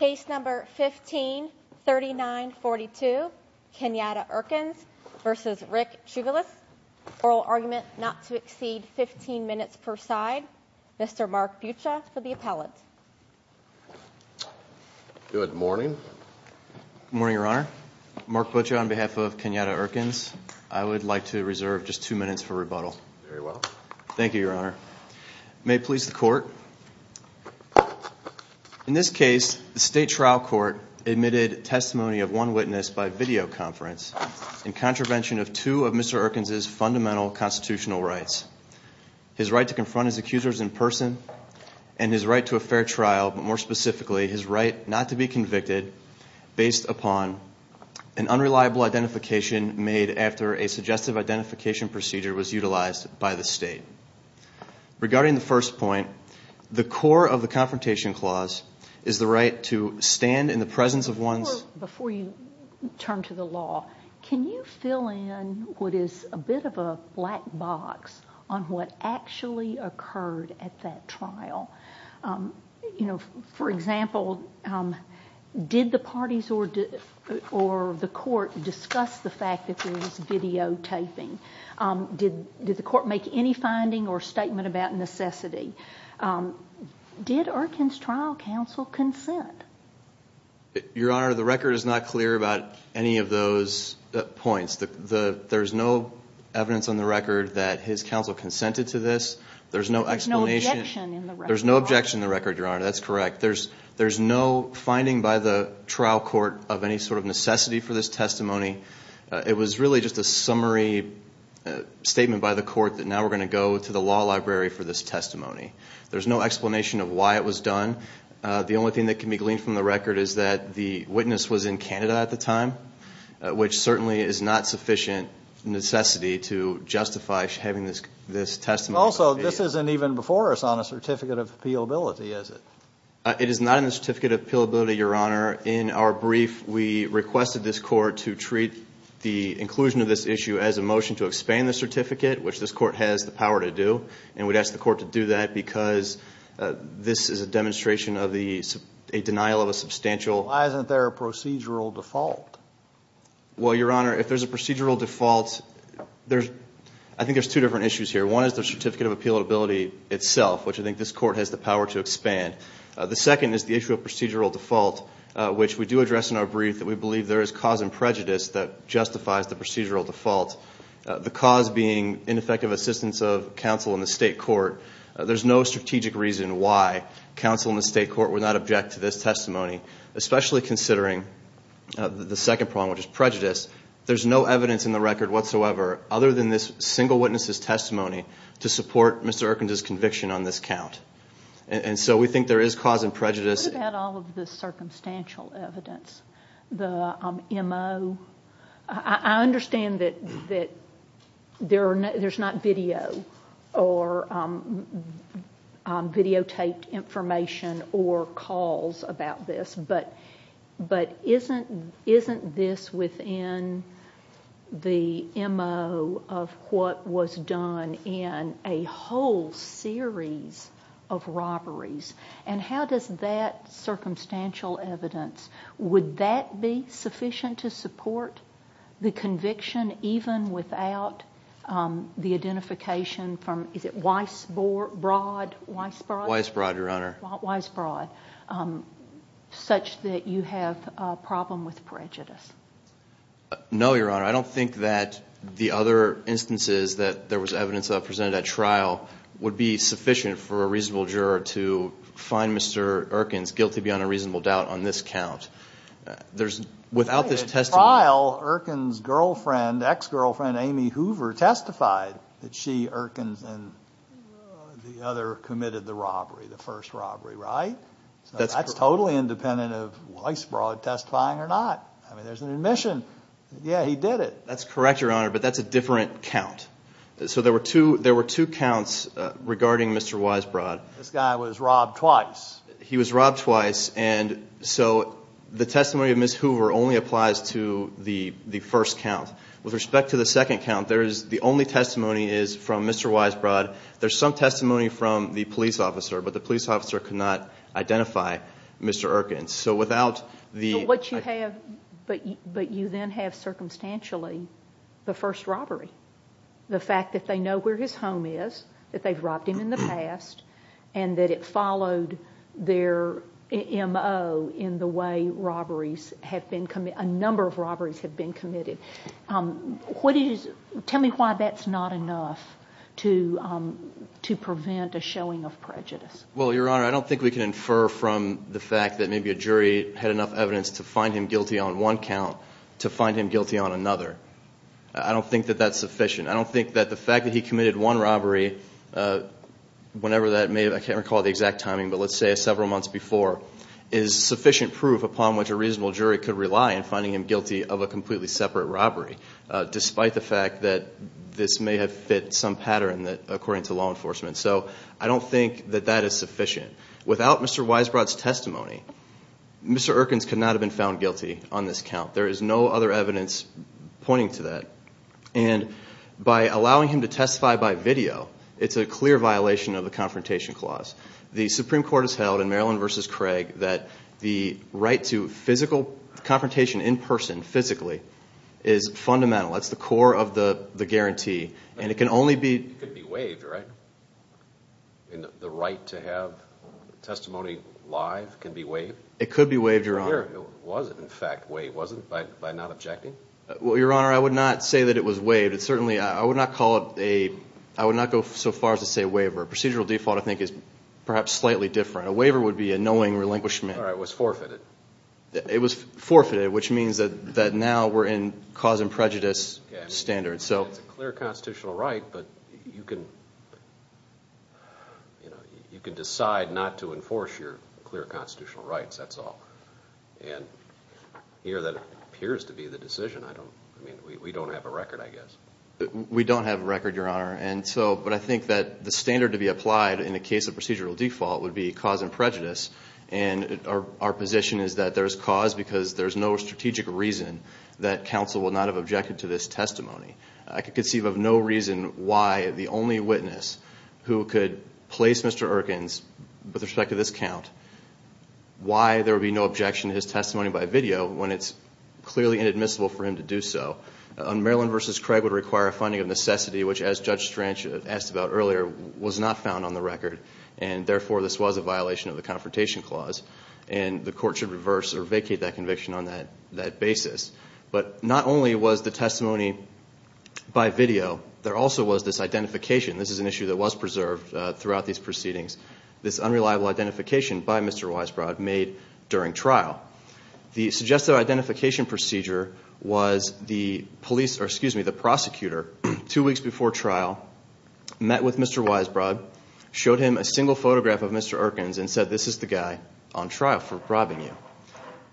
Case number 153942, Kenyatta Erkins versus Rick Chuvalas. Oral argument not to exceed 15 minutes per side. Mr. Mark Buccia for the appellate. Good morning. Good morning, Your Honor. Mark Buccia on behalf of Kenyatta Erkins. I would like to reserve just two minutes for rebuttal. Very well. Thank you, Your Honor. May it please the In this case, the state trial court admitted testimony of one witness by video conference in contravention of two of Mr. Erkins' fundamental constitutional rights. His right to confront his accusers in person and his right to a fair trial, but more specifically, his right not to be convicted based upon an unreliable identification made after a suggestive identification procedure was utilized by the state. Regarding the first point, the core of the confrontation clause is the right to stand in the presence of one's Before you turn to the law, can you fill in what is a bit of a black box on what actually occurred at that trial? You know, for example, did the parties or the court discuss the fact that there was videotaping? Did the court make any finding or statement about necessity? Did Erkins' trial counsel consent? Your Honor, the record is not clear about any of those points. There's no evidence on the record that his counsel consented to this. There's no explanation. There's no objection in the record, Your Honor. That's correct. There's no finding by the trial court of any sort of necessity for this testimony. It was really just a summary statement by the court that now we're going to go to the law library for this testimony. There's no explanation of why it was done. The only thing that can be gleaned from the record is that the witness was in Canada at the time, which certainly is not sufficient necessity to justify having this testimony. Also, this isn't even before us on a Certificate of Appealability, is it? It is not in the Certificate of Appealability, Your Honor. In our brief, we requested this court to treat the inclusion of this issue as a motion to expand the certificate, which this court has the power to do, and we'd ask the court to do that because this is a demonstration of the denial of a substantial Why isn't there a procedural default? Well, Your Honor, if there's a procedural default, I think there's two different issues here. One is the Certificate of Appealability itself, which I think this court has the power to expand. The second is the issue of procedural default, which we do address in our brief that we believe there is cause and prejudice that justifies the procedural default. The cause being ineffective assistance of counsel in the state court. There's no strategic reason why counsel in the state court would not object to this testimony, especially considering the second problem, which is prejudice. There's no evidence in the record whatsoever, other than this single witness's testimony, to support Mr. Erkin's conviction on this count. And so we think there is cause and prejudice. What about all of the circumstantial evidence? The MO? I understand that there's not video or videotaped information or calls about this, but isn't this within the MO of what was done in a whole series of robberies? And how does that circumstantial evidence, would that be from, is it Weisbrod? Weisbrod, Your Honor. Weisbrod. Such that you have a problem with prejudice. No, Your Honor. I don't think that the other instances that there was evidence presented at trial would be sufficient for a reasonable juror to find Mr. Erkin's guilty beyond a reasonable doubt on this count. Without this testimony. At trial, Erkin's girlfriend, ex-girlfriend Amy Hoover testified that she, Erkin's, and the other committed the robbery, the first robbery, right? That's totally independent of Weisbrod testifying or not. I mean, there's an admission. Yeah, he did it. That's correct, Your Honor, but that's a different count. So there were two counts regarding Mr. Weisbrod. This guy was robbed twice. He was robbed twice, and so the testimony of Ms. Hoover only applies to the first count. With respect to the second count, the only testimony is from Mr. Weisbrod. There's some testimony from the police officer, but the police officer could not identify Mr. Erkin. So without the... So what you have, but you then have circumstantially the first robbery. The fact that they know where his home is, that they've robbed him in the past, and that it followed their M.O. in the way robberies have been committed, a number of robberies have been committed. What is, tell me why that's not enough to prevent a showing of prejudice? Well, Your Honor, I don't think we can infer from the fact that maybe a jury had enough evidence to find him guilty on one count to find him guilty on another. I don't think that that's sufficient. I don't think that the fact that he committed one robbery, whenever that may have, I can't recall the exact timing, but let's say several months before, is sufficient proof upon which a reasonable jury could rely in finding him guilty of a completely separate robbery, despite the fact that this may have fit some pattern that, according to law enforcement. So I don't think that that is sufficient. Without Mr. Weisbrod's testimony, Mr. Erkins could not have been found guilty on this count. There is no other reason to testify by video. It's a clear violation of the Confrontation Clause. The Supreme Court has held in Maryland v. Craig that the right to physical confrontation in person, physically, is fundamental. That's the core of the guarantee, and it can only be... It could be waived, right? And the right to have testimony live can be waived? It could be waived, Your Honor. Or was it, in fact, waived? Was it, by not objecting? Well, Your Honor, I would not say that it was waived. It certainly, I would not call it a... I would not go so far as to say a waiver. A procedural default, I think, is perhaps slightly different. A waiver would be a knowing relinquishment. All right. It was forfeited. It was forfeited, which means that now we're in cause and prejudice standards. So... It's a clear constitutional right, but you can, you know, you can decide not to enforce your clear constitutional rights. That's all. And here, that appears to be the decision. I don't... I mean, we don't have a record, Your Honor. And so... But I think that the standard to be applied in the case of procedural default would be cause and prejudice. And our position is that there's cause because there's no strategic reason that counsel will not have objected to this testimony. I could conceive of no reason why the only witness who could place Mr. Erkins, with respect to this count, why there would be no objection to his testimony by video when it's clearly inadmissible for him to do so. On Maryland versus Craig would require a finding of necessity, which as Judge Strange asked about earlier, was not found on the record. And therefore, this was a violation of the Confrontation Clause. And the court should reverse or vacate that conviction on that basis. But not only was the testimony by video, there also was this identification. This is an issue that was preserved throughout these proceedings. This unreliable identification by Mr. Weisbrod made during trial. The suggested identification procedure was the prosecutor, two weeks before trial, met with Mr. Weisbrod, showed him a single photograph of Mr. Erkins and said, this is the guy on trial for robbing you.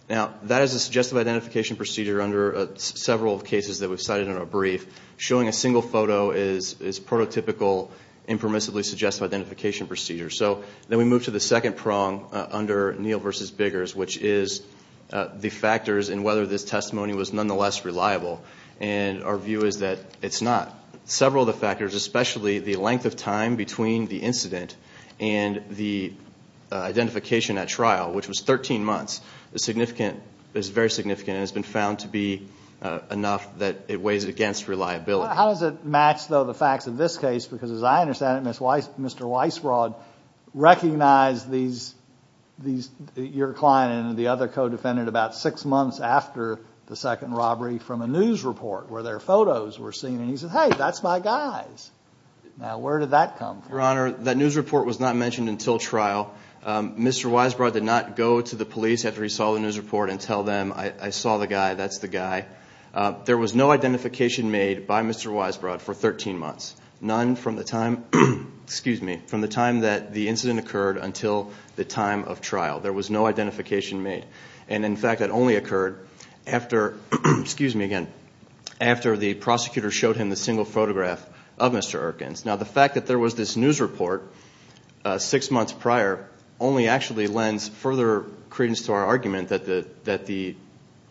Now, that is a suggestive identification procedure under several cases that we've cited in our brief. Showing a single photo is prototypical, impermissibly suggestive identification procedure. So, then we move to the second prong under Neal versus Biggers, which is the factors in whether this testimony was nonetheless reliable. And our view is that it's not. Several of the factors, especially the length of time between the incident and the identification at trial, which was 13 months, is significant, is very significant and has been found to be enough that it weighs against reliability. How does it match, though, the facts of this case? Because as I understand it, Mr. Weisbrod recognized these, your client and the other co-defendant about six months after the second robbery from a news report where their photos were seen. And he said, hey, that's my guys. Now, where did that come from? Your Honor, that news report was not mentioned until trial. Mr. Weisbrod did not go to the police after he saw the news report and tell them, I saw the guy, that's the guy. There was no identification made by Mr. Weisbrod for 13 months, none from the time, excuse me, from the time that the incident occurred until the time of trial. There was no identification made. And in fact, that only occurred after, excuse me again, after the prosecutor showed him the single photograph of Mr. Erkins. Now, the fact that there was this news report six months prior only actually lends further credence to our argument that the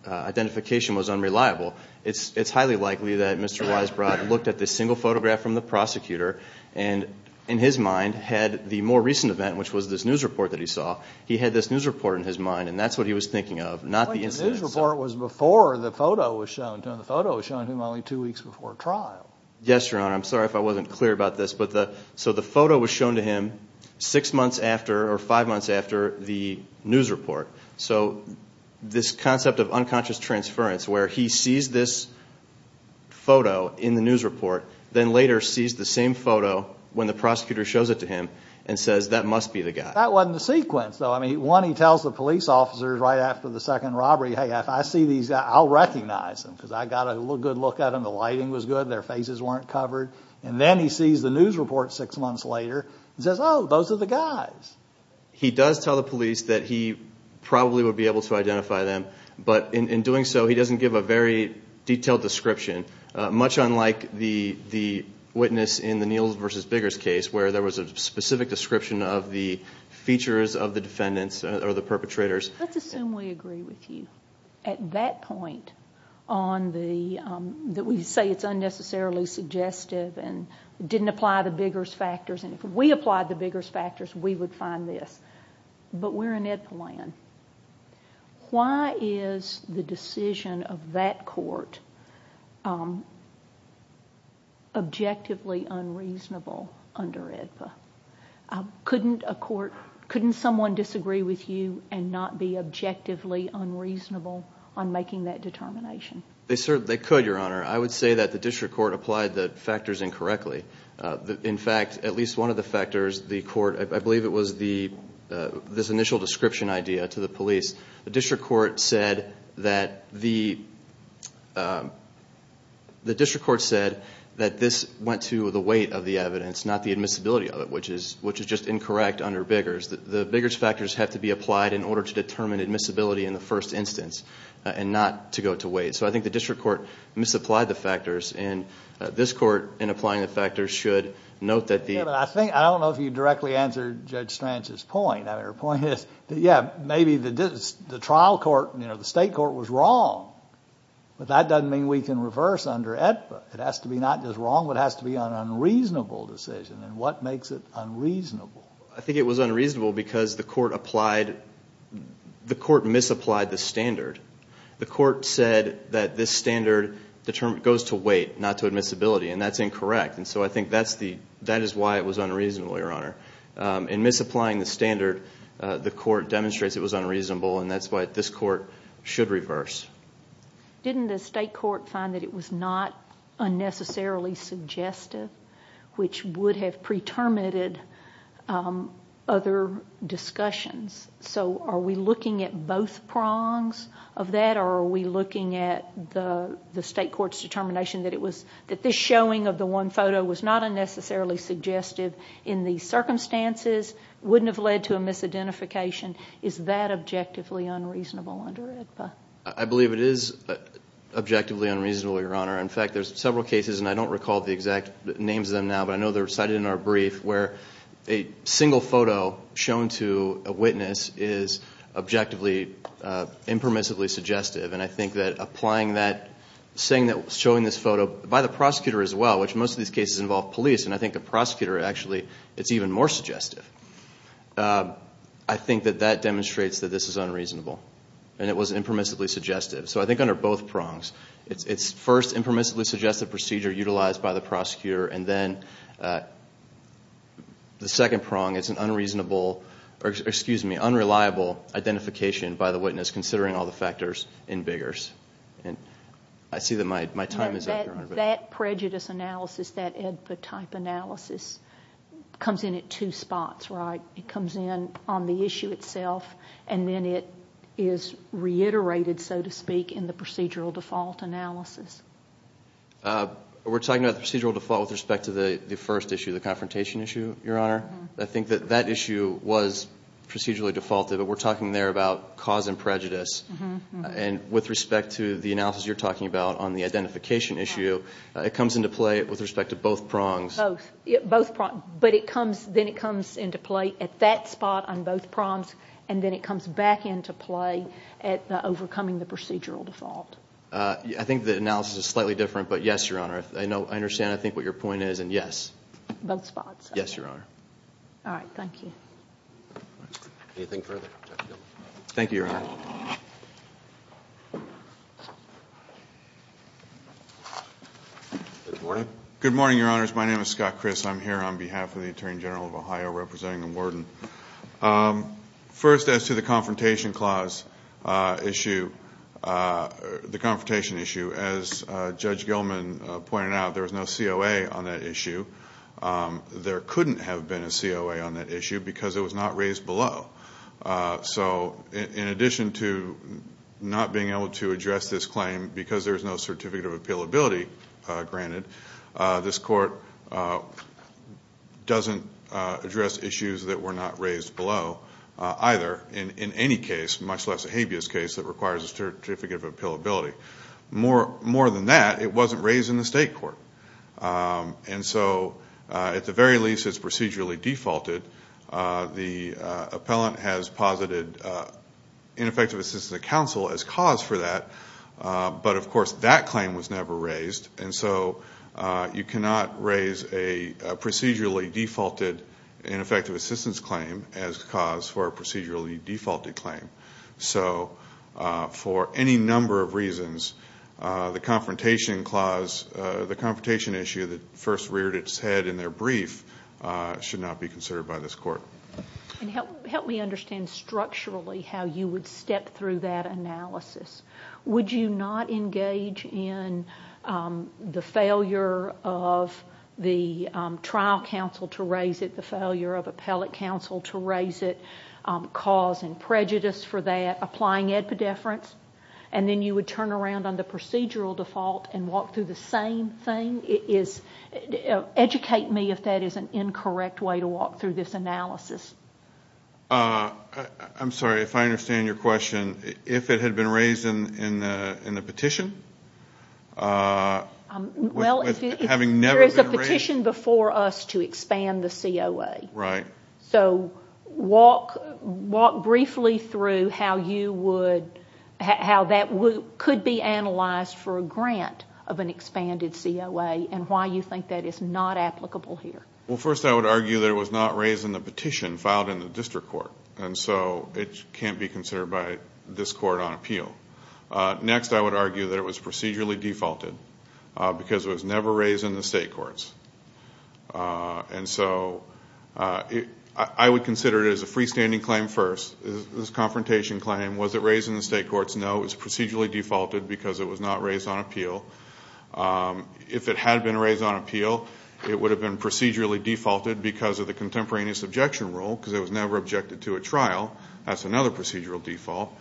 identification was unreliable. It's highly likely that Mr. Weisbrod looked at the single photograph from the prosecutor and in his mind had the more recent event, which was this news report that he saw. He had this news report in his mind and that's what he was thinking of, not the incident. The news report was before the photo was shown to him. The photo was shown to him only two weeks before trial. Yes, Your Honor. I'm sorry if I wasn't clear about this. But the, so the photo was shown to him six months prior to this concept of unconscious transference where he sees this photo in the news report, then later sees the same photo when the prosecutor shows it to him and says that must be the guy. That wasn't the sequence, though. I mean, one, he tells the police officers right after the second robbery, hey, if I see these, I'll recognize them because I got a good look at them. The lighting was good. Their faces weren't covered. And then he sees the news report six months later and says, oh, those are the guys. He does tell the police that he probably would be able to identify them. But in doing so, he doesn't give a very detailed description, much unlike the witness in the Niels v. Biggers case where there was a specific description of the features of the defendants or the perpetrators. Let's assume we agree with you at that point on the, that we say it's unnecessarily suggestive and didn't apply the Biggers factors. And if we applied the Biggers factors, we would find this. But we're in Ed Polan. Why is the decision of that court objectively unreasonable under EDPA? Couldn't a court, couldn't someone disagree with you and not be objectively unreasonable on making that determination? They certainly could, Your Honor. I would say that the district court applied the factors incorrectly. In fact, at least one of the factors, the court, I believe it was the, this initial description idea to the district court said that the, the district court said that this went to the weight of the evidence, not the admissibility of it, which is, which is just incorrect under Biggers. The Biggers factors have to be applied in order to determine admissibility in the first instance and not to go to weight. So I think the district court misapplied the factors and this court in applying the factors should note that the, Yeah, but I think, I don't know if you directly answered Judge Stranch's point. I mean, her point is that, yeah, maybe the trial court, you know, the state court was wrong, but that doesn't mean we can reverse under EDPA. It has to be not just wrong, but it has to be an unreasonable decision. And what makes it unreasonable? I think it was unreasonable because the court applied, the court misapplied the standard. The court said that this standard determined, goes to weight, not to admissibility, and that's incorrect. And so I think that's the, that is why it was unreasonable, Your Honor. In misapplying the standard, the court demonstrates it was unreasonable and that's why this court should reverse. Didn't the state court find that it was not unnecessarily suggestive, which would have pre-terminated other discussions? So are we looking at both prongs of that or are we looking at the unnecessarily suggestive in the circumstances wouldn't have led to a misidentification? Is that objectively unreasonable under EDPA? I believe it is objectively unreasonable, Your Honor. In fact, there's several cases, and I don't recall the exact names of them now, but I know they're cited in our brief, where a single photo shown to a witness is objectively impermissibly suggestive. And I think that applying that, saying that, showing this photo by the prosecutor as well, which most of these cases involve police, and I think the prosecutor actually, it's even more suggestive, I think that that demonstrates that this is unreasonable and it was impermissibly suggestive. So I think under both prongs, it's first impermissibly suggestive procedure utilized by the prosecutor, and then the second prong, it's an unreasonable, or excuse me, unreliable identification by the witness, considering all the factors in Biggers. And I see that my time That prejudice analysis, that EDPA type analysis, comes in at two spots, right? It comes in on the issue itself, and then it is reiterated, so to speak, in the procedural default analysis. We're talking about the procedural default with respect to the first issue, the confrontation issue, Your Honor. I think that that issue was procedurally defaulted, but we're talking there about cause and prejudice. And with respect to the analysis you're talking about on the identification issue, it comes into play with respect to both prongs. Both. Both prongs. But it comes, then it comes into play at that spot on both prongs, and then it comes back into play at the overcoming the procedural default. I think the analysis is slightly different, but yes, Your Honor. I know, I understand, I think what your point is, and yes. Both spots. Yes, Your Honor. All right, thank you. Anything further? Thank you, Your Honor. Good morning. Good morning, Your Honors. My name is Scott Criss. I'm here on behalf of the Attorney General of Ohio representing the warden. First, as to the confrontation clause issue, the confrontation issue, as Judge Gilman pointed out, there was no COA on that issue. There couldn't have been a COA on that issue because it was not raised below. So in addition to not being able to address this claim because there's no certificate of appealability granted, this court doesn't address issues that were not raised below either in any case, much less a habeas case that requires a certificate of appealability. More than that, it wasn't raised in the state court. And so at the very least, it's procedurally defaulted. The appellant has posited ineffective assistance of counsel as cause for that. But of course, that claim was never raised. And so you cannot raise a procedurally defaulted ineffective assistance claim as cause for a procedurally defaulted claim. So for any number of reasons, the confrontation issue that first reared its head in their brief should not be considered by this court. And help me understand structurally how you would step through that analysis. Would you not engage in the failure of the trial counsel to raise it, the failure of appellate counsel to raise it, cause and prejudice for that, applying epidefference, and then you would turn around on the procedural default and walk through the same thing? Educate me if that is an incorrect way to walk through this analysis. I'm sorry, if I understand your question, if it had been raised in the petition? Well, there is a petition before us to expand the COA. Right. So walk briefly through how that could be analyzed for a grant of an expanded COA and why you think that is not applicable here. Well, first, I would argue that it was not raised in the petition filed in the district court. And so it can't be considered by this court on appeal. Next, I would argue that it was procedurally defaulted because it was never raised in the state courts. And so I would consider it as a freestanding claim first, this confrontation claim. Was it raised in the state courts? No, it was procedurally defaulted because it was not raised on appeal. If it had been raised on appeal, it would have been procedurally defaulted because of the contemporaneous objection rule, because it was never objected to at trial. That's another procedural default.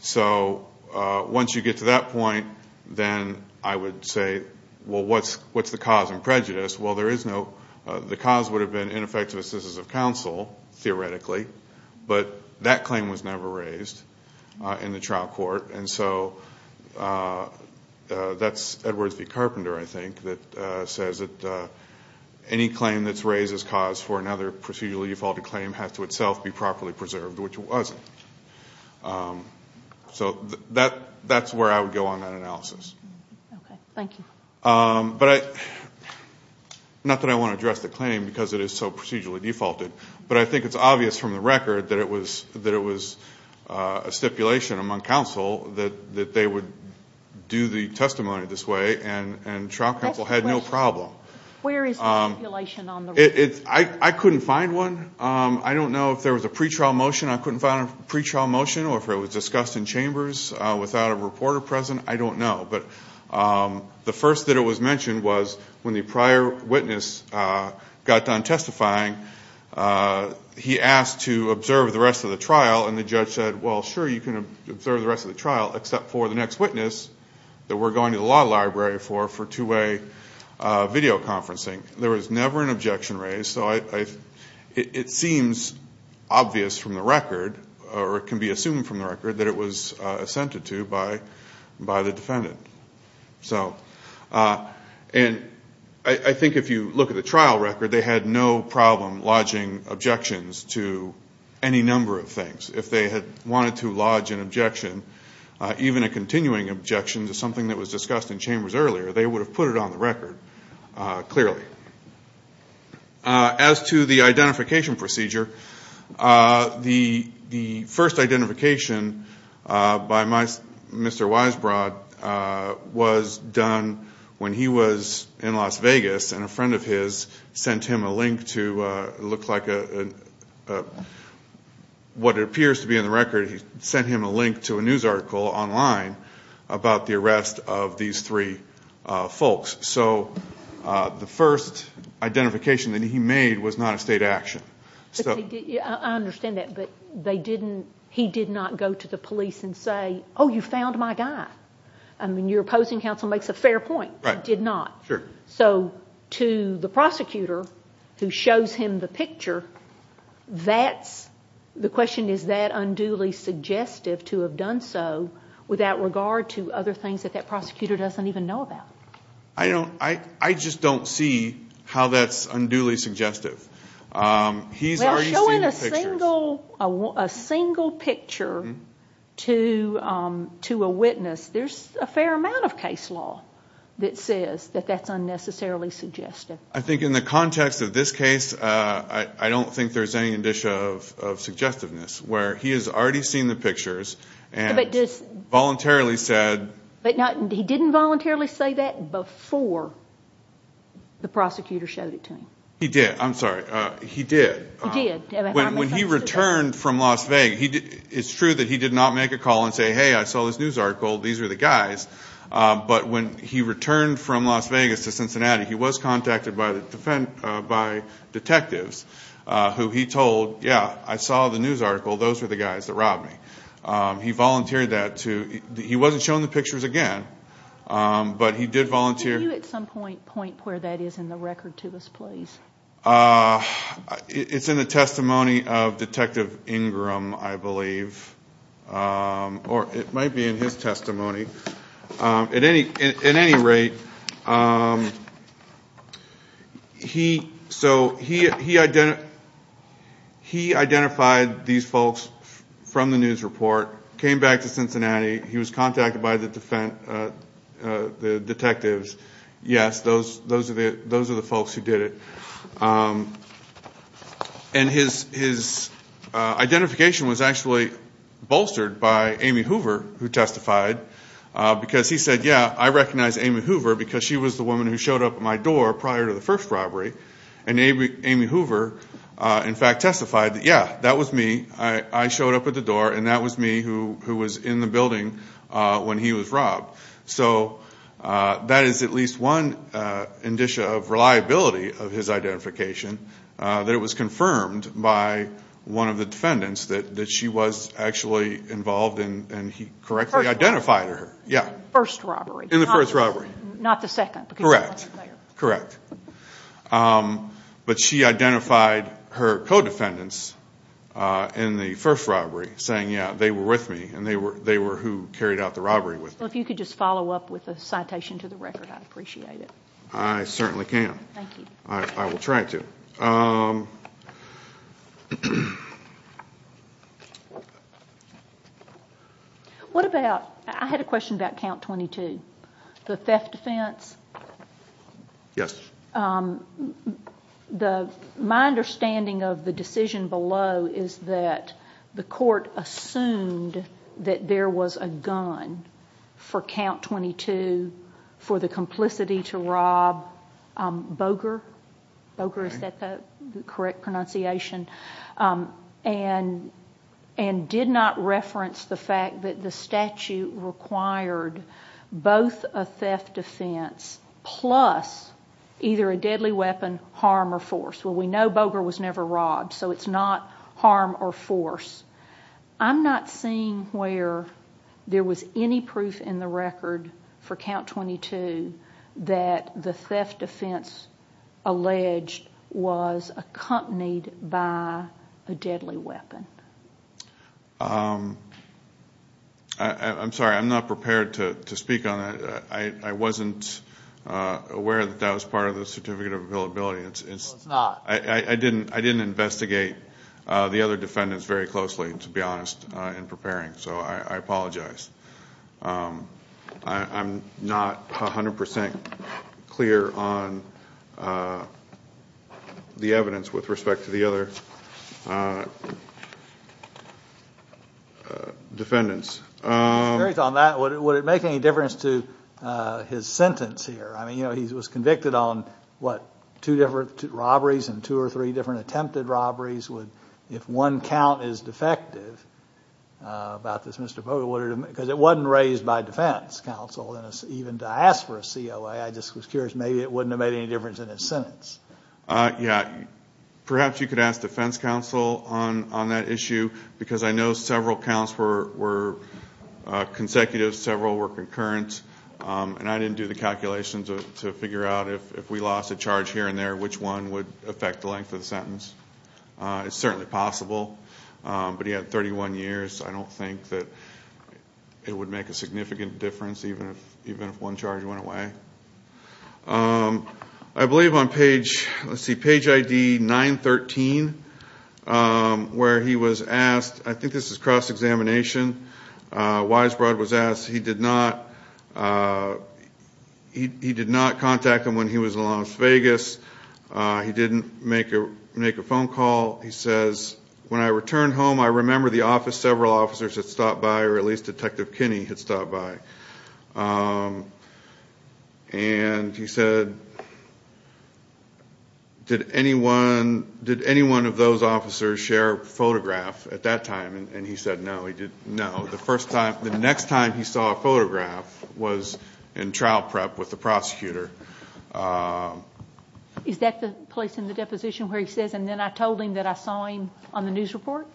So once you get to that point, then I would say, well, what's the cause and prejudice? Well, the cause would have been ineffective assistance of counsel, theoretically. But that claim was never raised in the trial court. And so that's Edwards v. Carpenter, I think, that says that any claim that's raised as cause for another procedurally defaulted claim has to itself be properly preserved, which it wasn't. So that's where I would go on that analysis. Okay, thank you. But not that I want to address the claim because it is so procedurally defaulted, but I think it's obvious from the record that it was a stipulation among counsel that they would do the testimony this way, and trial counsel had no problem. Where is the stipulation on the record? I couldn't find one. I don't know if there was a pretrial motion. I couldn't find a pretrial motion or if it was discussed in chambers without a reporter present. I don't know. But the first that it was mentioned was when the prior witness got done testifying, he asked to observe the rest of the trial. And the judge said, well, sure, you can observe the rest of the trial, except for the next witness that we're going to the law library for two-way video conferencing. There was never an objection raised. So it seems obvious from the record, or it can be assumed from the record, that it was assented to by the defendant. And I think if you look at the trial record, they had no problem lodging objections to any number of things. If they had wanted to lodge an objection, even a continuing objection to something that was discussed in chambers earlier, they would have put it on the record clearly. As to the identification procedure, the first identification by Mr. Weisbrod was done when he was in Las Vegas, and a friend of his sent him a link to look like a, what appears to be in the record, he sent him a link to a news article online about the arrest of these three folks. So the first identification that he made was not a state action. But he did, I understand that, but they didn't, he did not go to the police and say, oh, you found my guy. I mean, your opposing counsel makes a fair point. Right. He did not. Sure. So to the prosecutor who shows him the picture, that's, the question is, is that unduly suggestive to have done so without regard to other things that that prosecutor doesn't even know about? I don't, I just don't see how that's unduly suggestive. He's already seen the pictures. Well, showing a single picture to a witness, there's a fair amount of case law that says that that's unnecessarily suggestive. I think in the context of this case, I don't think there's any indicia of suggestiveness, where he has already seen the pictures and voluntarily said. But he didn't voluntarily say that before the prosecutor showed it to him. He did. I'm sorry. He did. When he returned from Las Vegas, it's true that he did not make a call and say, hey, I saw this news article. These are the guys. But when he returned from Las Vegas to Cincinnati, he was contacted by detectives who he told, yeah, I saw the news article. Those were the guys that robbed me. He volunteered that to, he wasn't shown the pictures again, but he did volunteer. Can you at some point point where that is in the record to us, please? It's in the testimony of Detective Ingram, I believe. Or it might be in his testimony. At any rate, he identified these folks from the news report, came back to Cincinnati. He was contacted by the detectives. Yes, those are the folks who did it. And his identification was actually bolstered by Amy Hoover, who testified, because he said, yeah, I recognize Amy Hoover because she was the woman who showed up at my door prior to the first robbery. And Amy Hoover, in fact, testified that, yeah, that was me. I showed up at the door and that was me who was in the building when he was robbed. So that is at least one indicia of reliability of his identification, that it was confirmed by one of the defendants that she was actually involved and he correctly identified her. Yeah. First robbery. In the first robbery. Not the second. Correct. Correct. But she identified her co-defendants in the first robbery saying, yeah, they were with me and they were who carried out the robbery with me. Well, if you could just follow up with a citation to the record, I'd appreciate it. I certainly can. Thank you. I will try to. What about, I had a question about count 22, the theft defense. Yes. My understanding of the decision below is that the court assumed that there was a gun for count 22 for the complicity to rob Boger. Boger, is that the correct pronunciation? And did not reference the fact that the statute required both a theft defense plus either a deadly weapon, harm, or force. Well, we know Boger was never robbed, so it's not harm or force. I'm not seeing where there was any proof in the record for count 22 that the theft defense alleged was accompanied by a deadly weapon. I'm sorry, I'm not prepared to speak on that. I wasn't aware that that was part of the certificate of availability. Well, it's not. I didn't investigate the other defendants very closely, to be honest, in preparing, so I apologize. I'm not 100% clear on the evidence with respect to the other defendants. Would it make any difference to his sentence here? He was convicted on, what, two different robberies and two or three different attempted robberies. If one count is defective about this, Mr. Boger, because it wasn't raised by defense counsel, even to ask for a COA. I just was curious, maybe it wouldn't have made any difference in his sentence. Yeah, perhaps you could ask defense counsel on that issue because I know several counts were consecutive, several were concurrent, and I didn't do the calculations to figure out if we lost a charge here and there, which one would affect the length of the sentence. It's certainly possible, but he had 31 years. I don't think that it would make a significant difference, even if one charge went away. I believe on page, let's see, page ID 913, where he was asked, I think this is cross He did not contact him when he was in Las Vegas. He didn't make a phone call. He says, when I returned home, I remember the office, several officers had stopped by, or at least Detective Kinney had stopped by. And he said, did any one of those officers share a photograph at that time? And he said, no, he didn't. The next time he saw a photograph was in trial prep with the prosecutor. Is that the place in the deposition where he says, and then I told him that I saw him on the news report?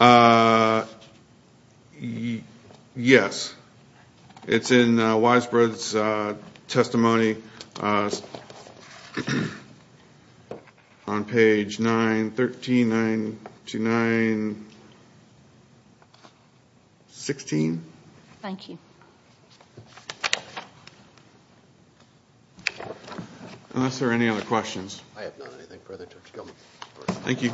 Yes. It's in Weisbrod's testimony on page 913, 929, 16. Thank you. Unless there are any other questions. Thank you.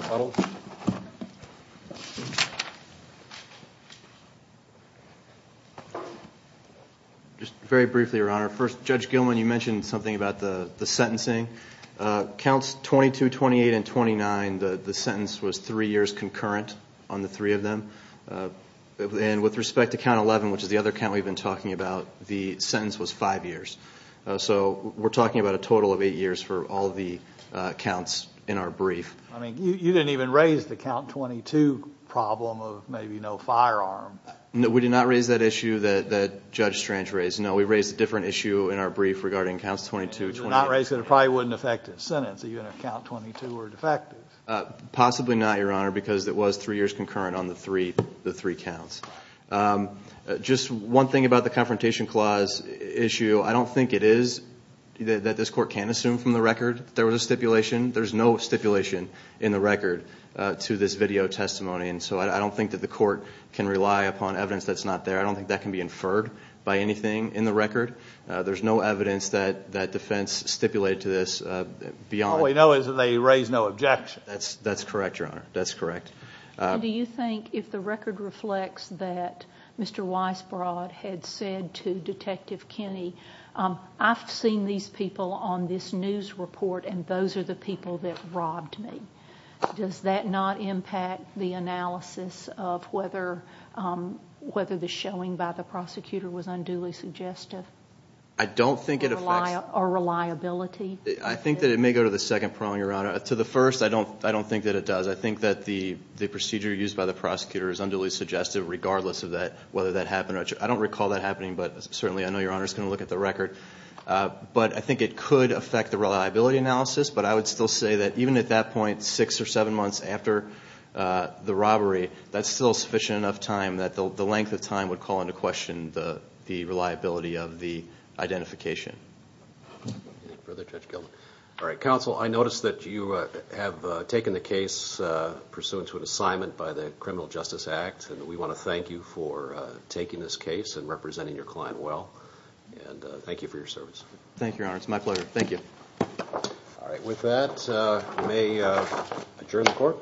Just very briefly, Your Honor. First, Judge Gilman, you mentioned something about the sentencing. Counts 22, 28, and 29, the sentence was three years concurrent on the three of them. And with respect to count 11, which is the other count we've been talking about, the sentence was five years. So we're talking about a total of eight years for all the counts in our brief. I mean, you didn't even raise the count 22 problem of maybe no firearm. We did not raise that issue that Judge Strange raised. No, we raised a different issue in our brief regarding counts 22, 28, and 29. You did not raise it. It probably wouldn't affect the sentence, even if count 22 were defective. Possibly not, Your Honor, because it was three years concurrent on the three counts. Just one thing about the confrontation clause issue. I don't think it is that this court can assume from the record that there was a stipulation. There's no stipulation in the record to this video testimony. So I don't think that the court can rely upon evidence that's not there. I don't think that can be inferred by anything in the record. There's no evidence that that defense stipulated to this beyond... All we know is that they raised no objection. That's correct, Your Honor. That's correct. Do you think if the record reflects that Mr. Weisbrod had said to Detective Kinney, I've seen these people on this news report, and those are the people that robbed me. Does that not impact the analysis of whether the showing by the prosecutor was unduly suggestive? I don't think it affects... Or reliability? I think that it may go to the second prong, Your Honor. To the first, I don't think that it does. I think that the procedure used by the prosecutor is unduly suggestive, regardless of whether that happened or not. I don't recall that happening, but certainly I know Your Honor is going to look at the record. But I think it could affect the reliability analysis. But I would still say that even at that point, six or seven months after the robbery, that's still sufficient enough time that the length of time would call into question the reliability of the identification. Further Judge Gilman. All right. Counsel, I noticed that you have taken the case pursuant to an assignment by the Criminal Justice Act. And we want to thank you for taking this case and representing your client well. And thank you for your service. Thank you, Your Honor. It's my pleasure. Thank you. All right. With that, I may adjourn the court.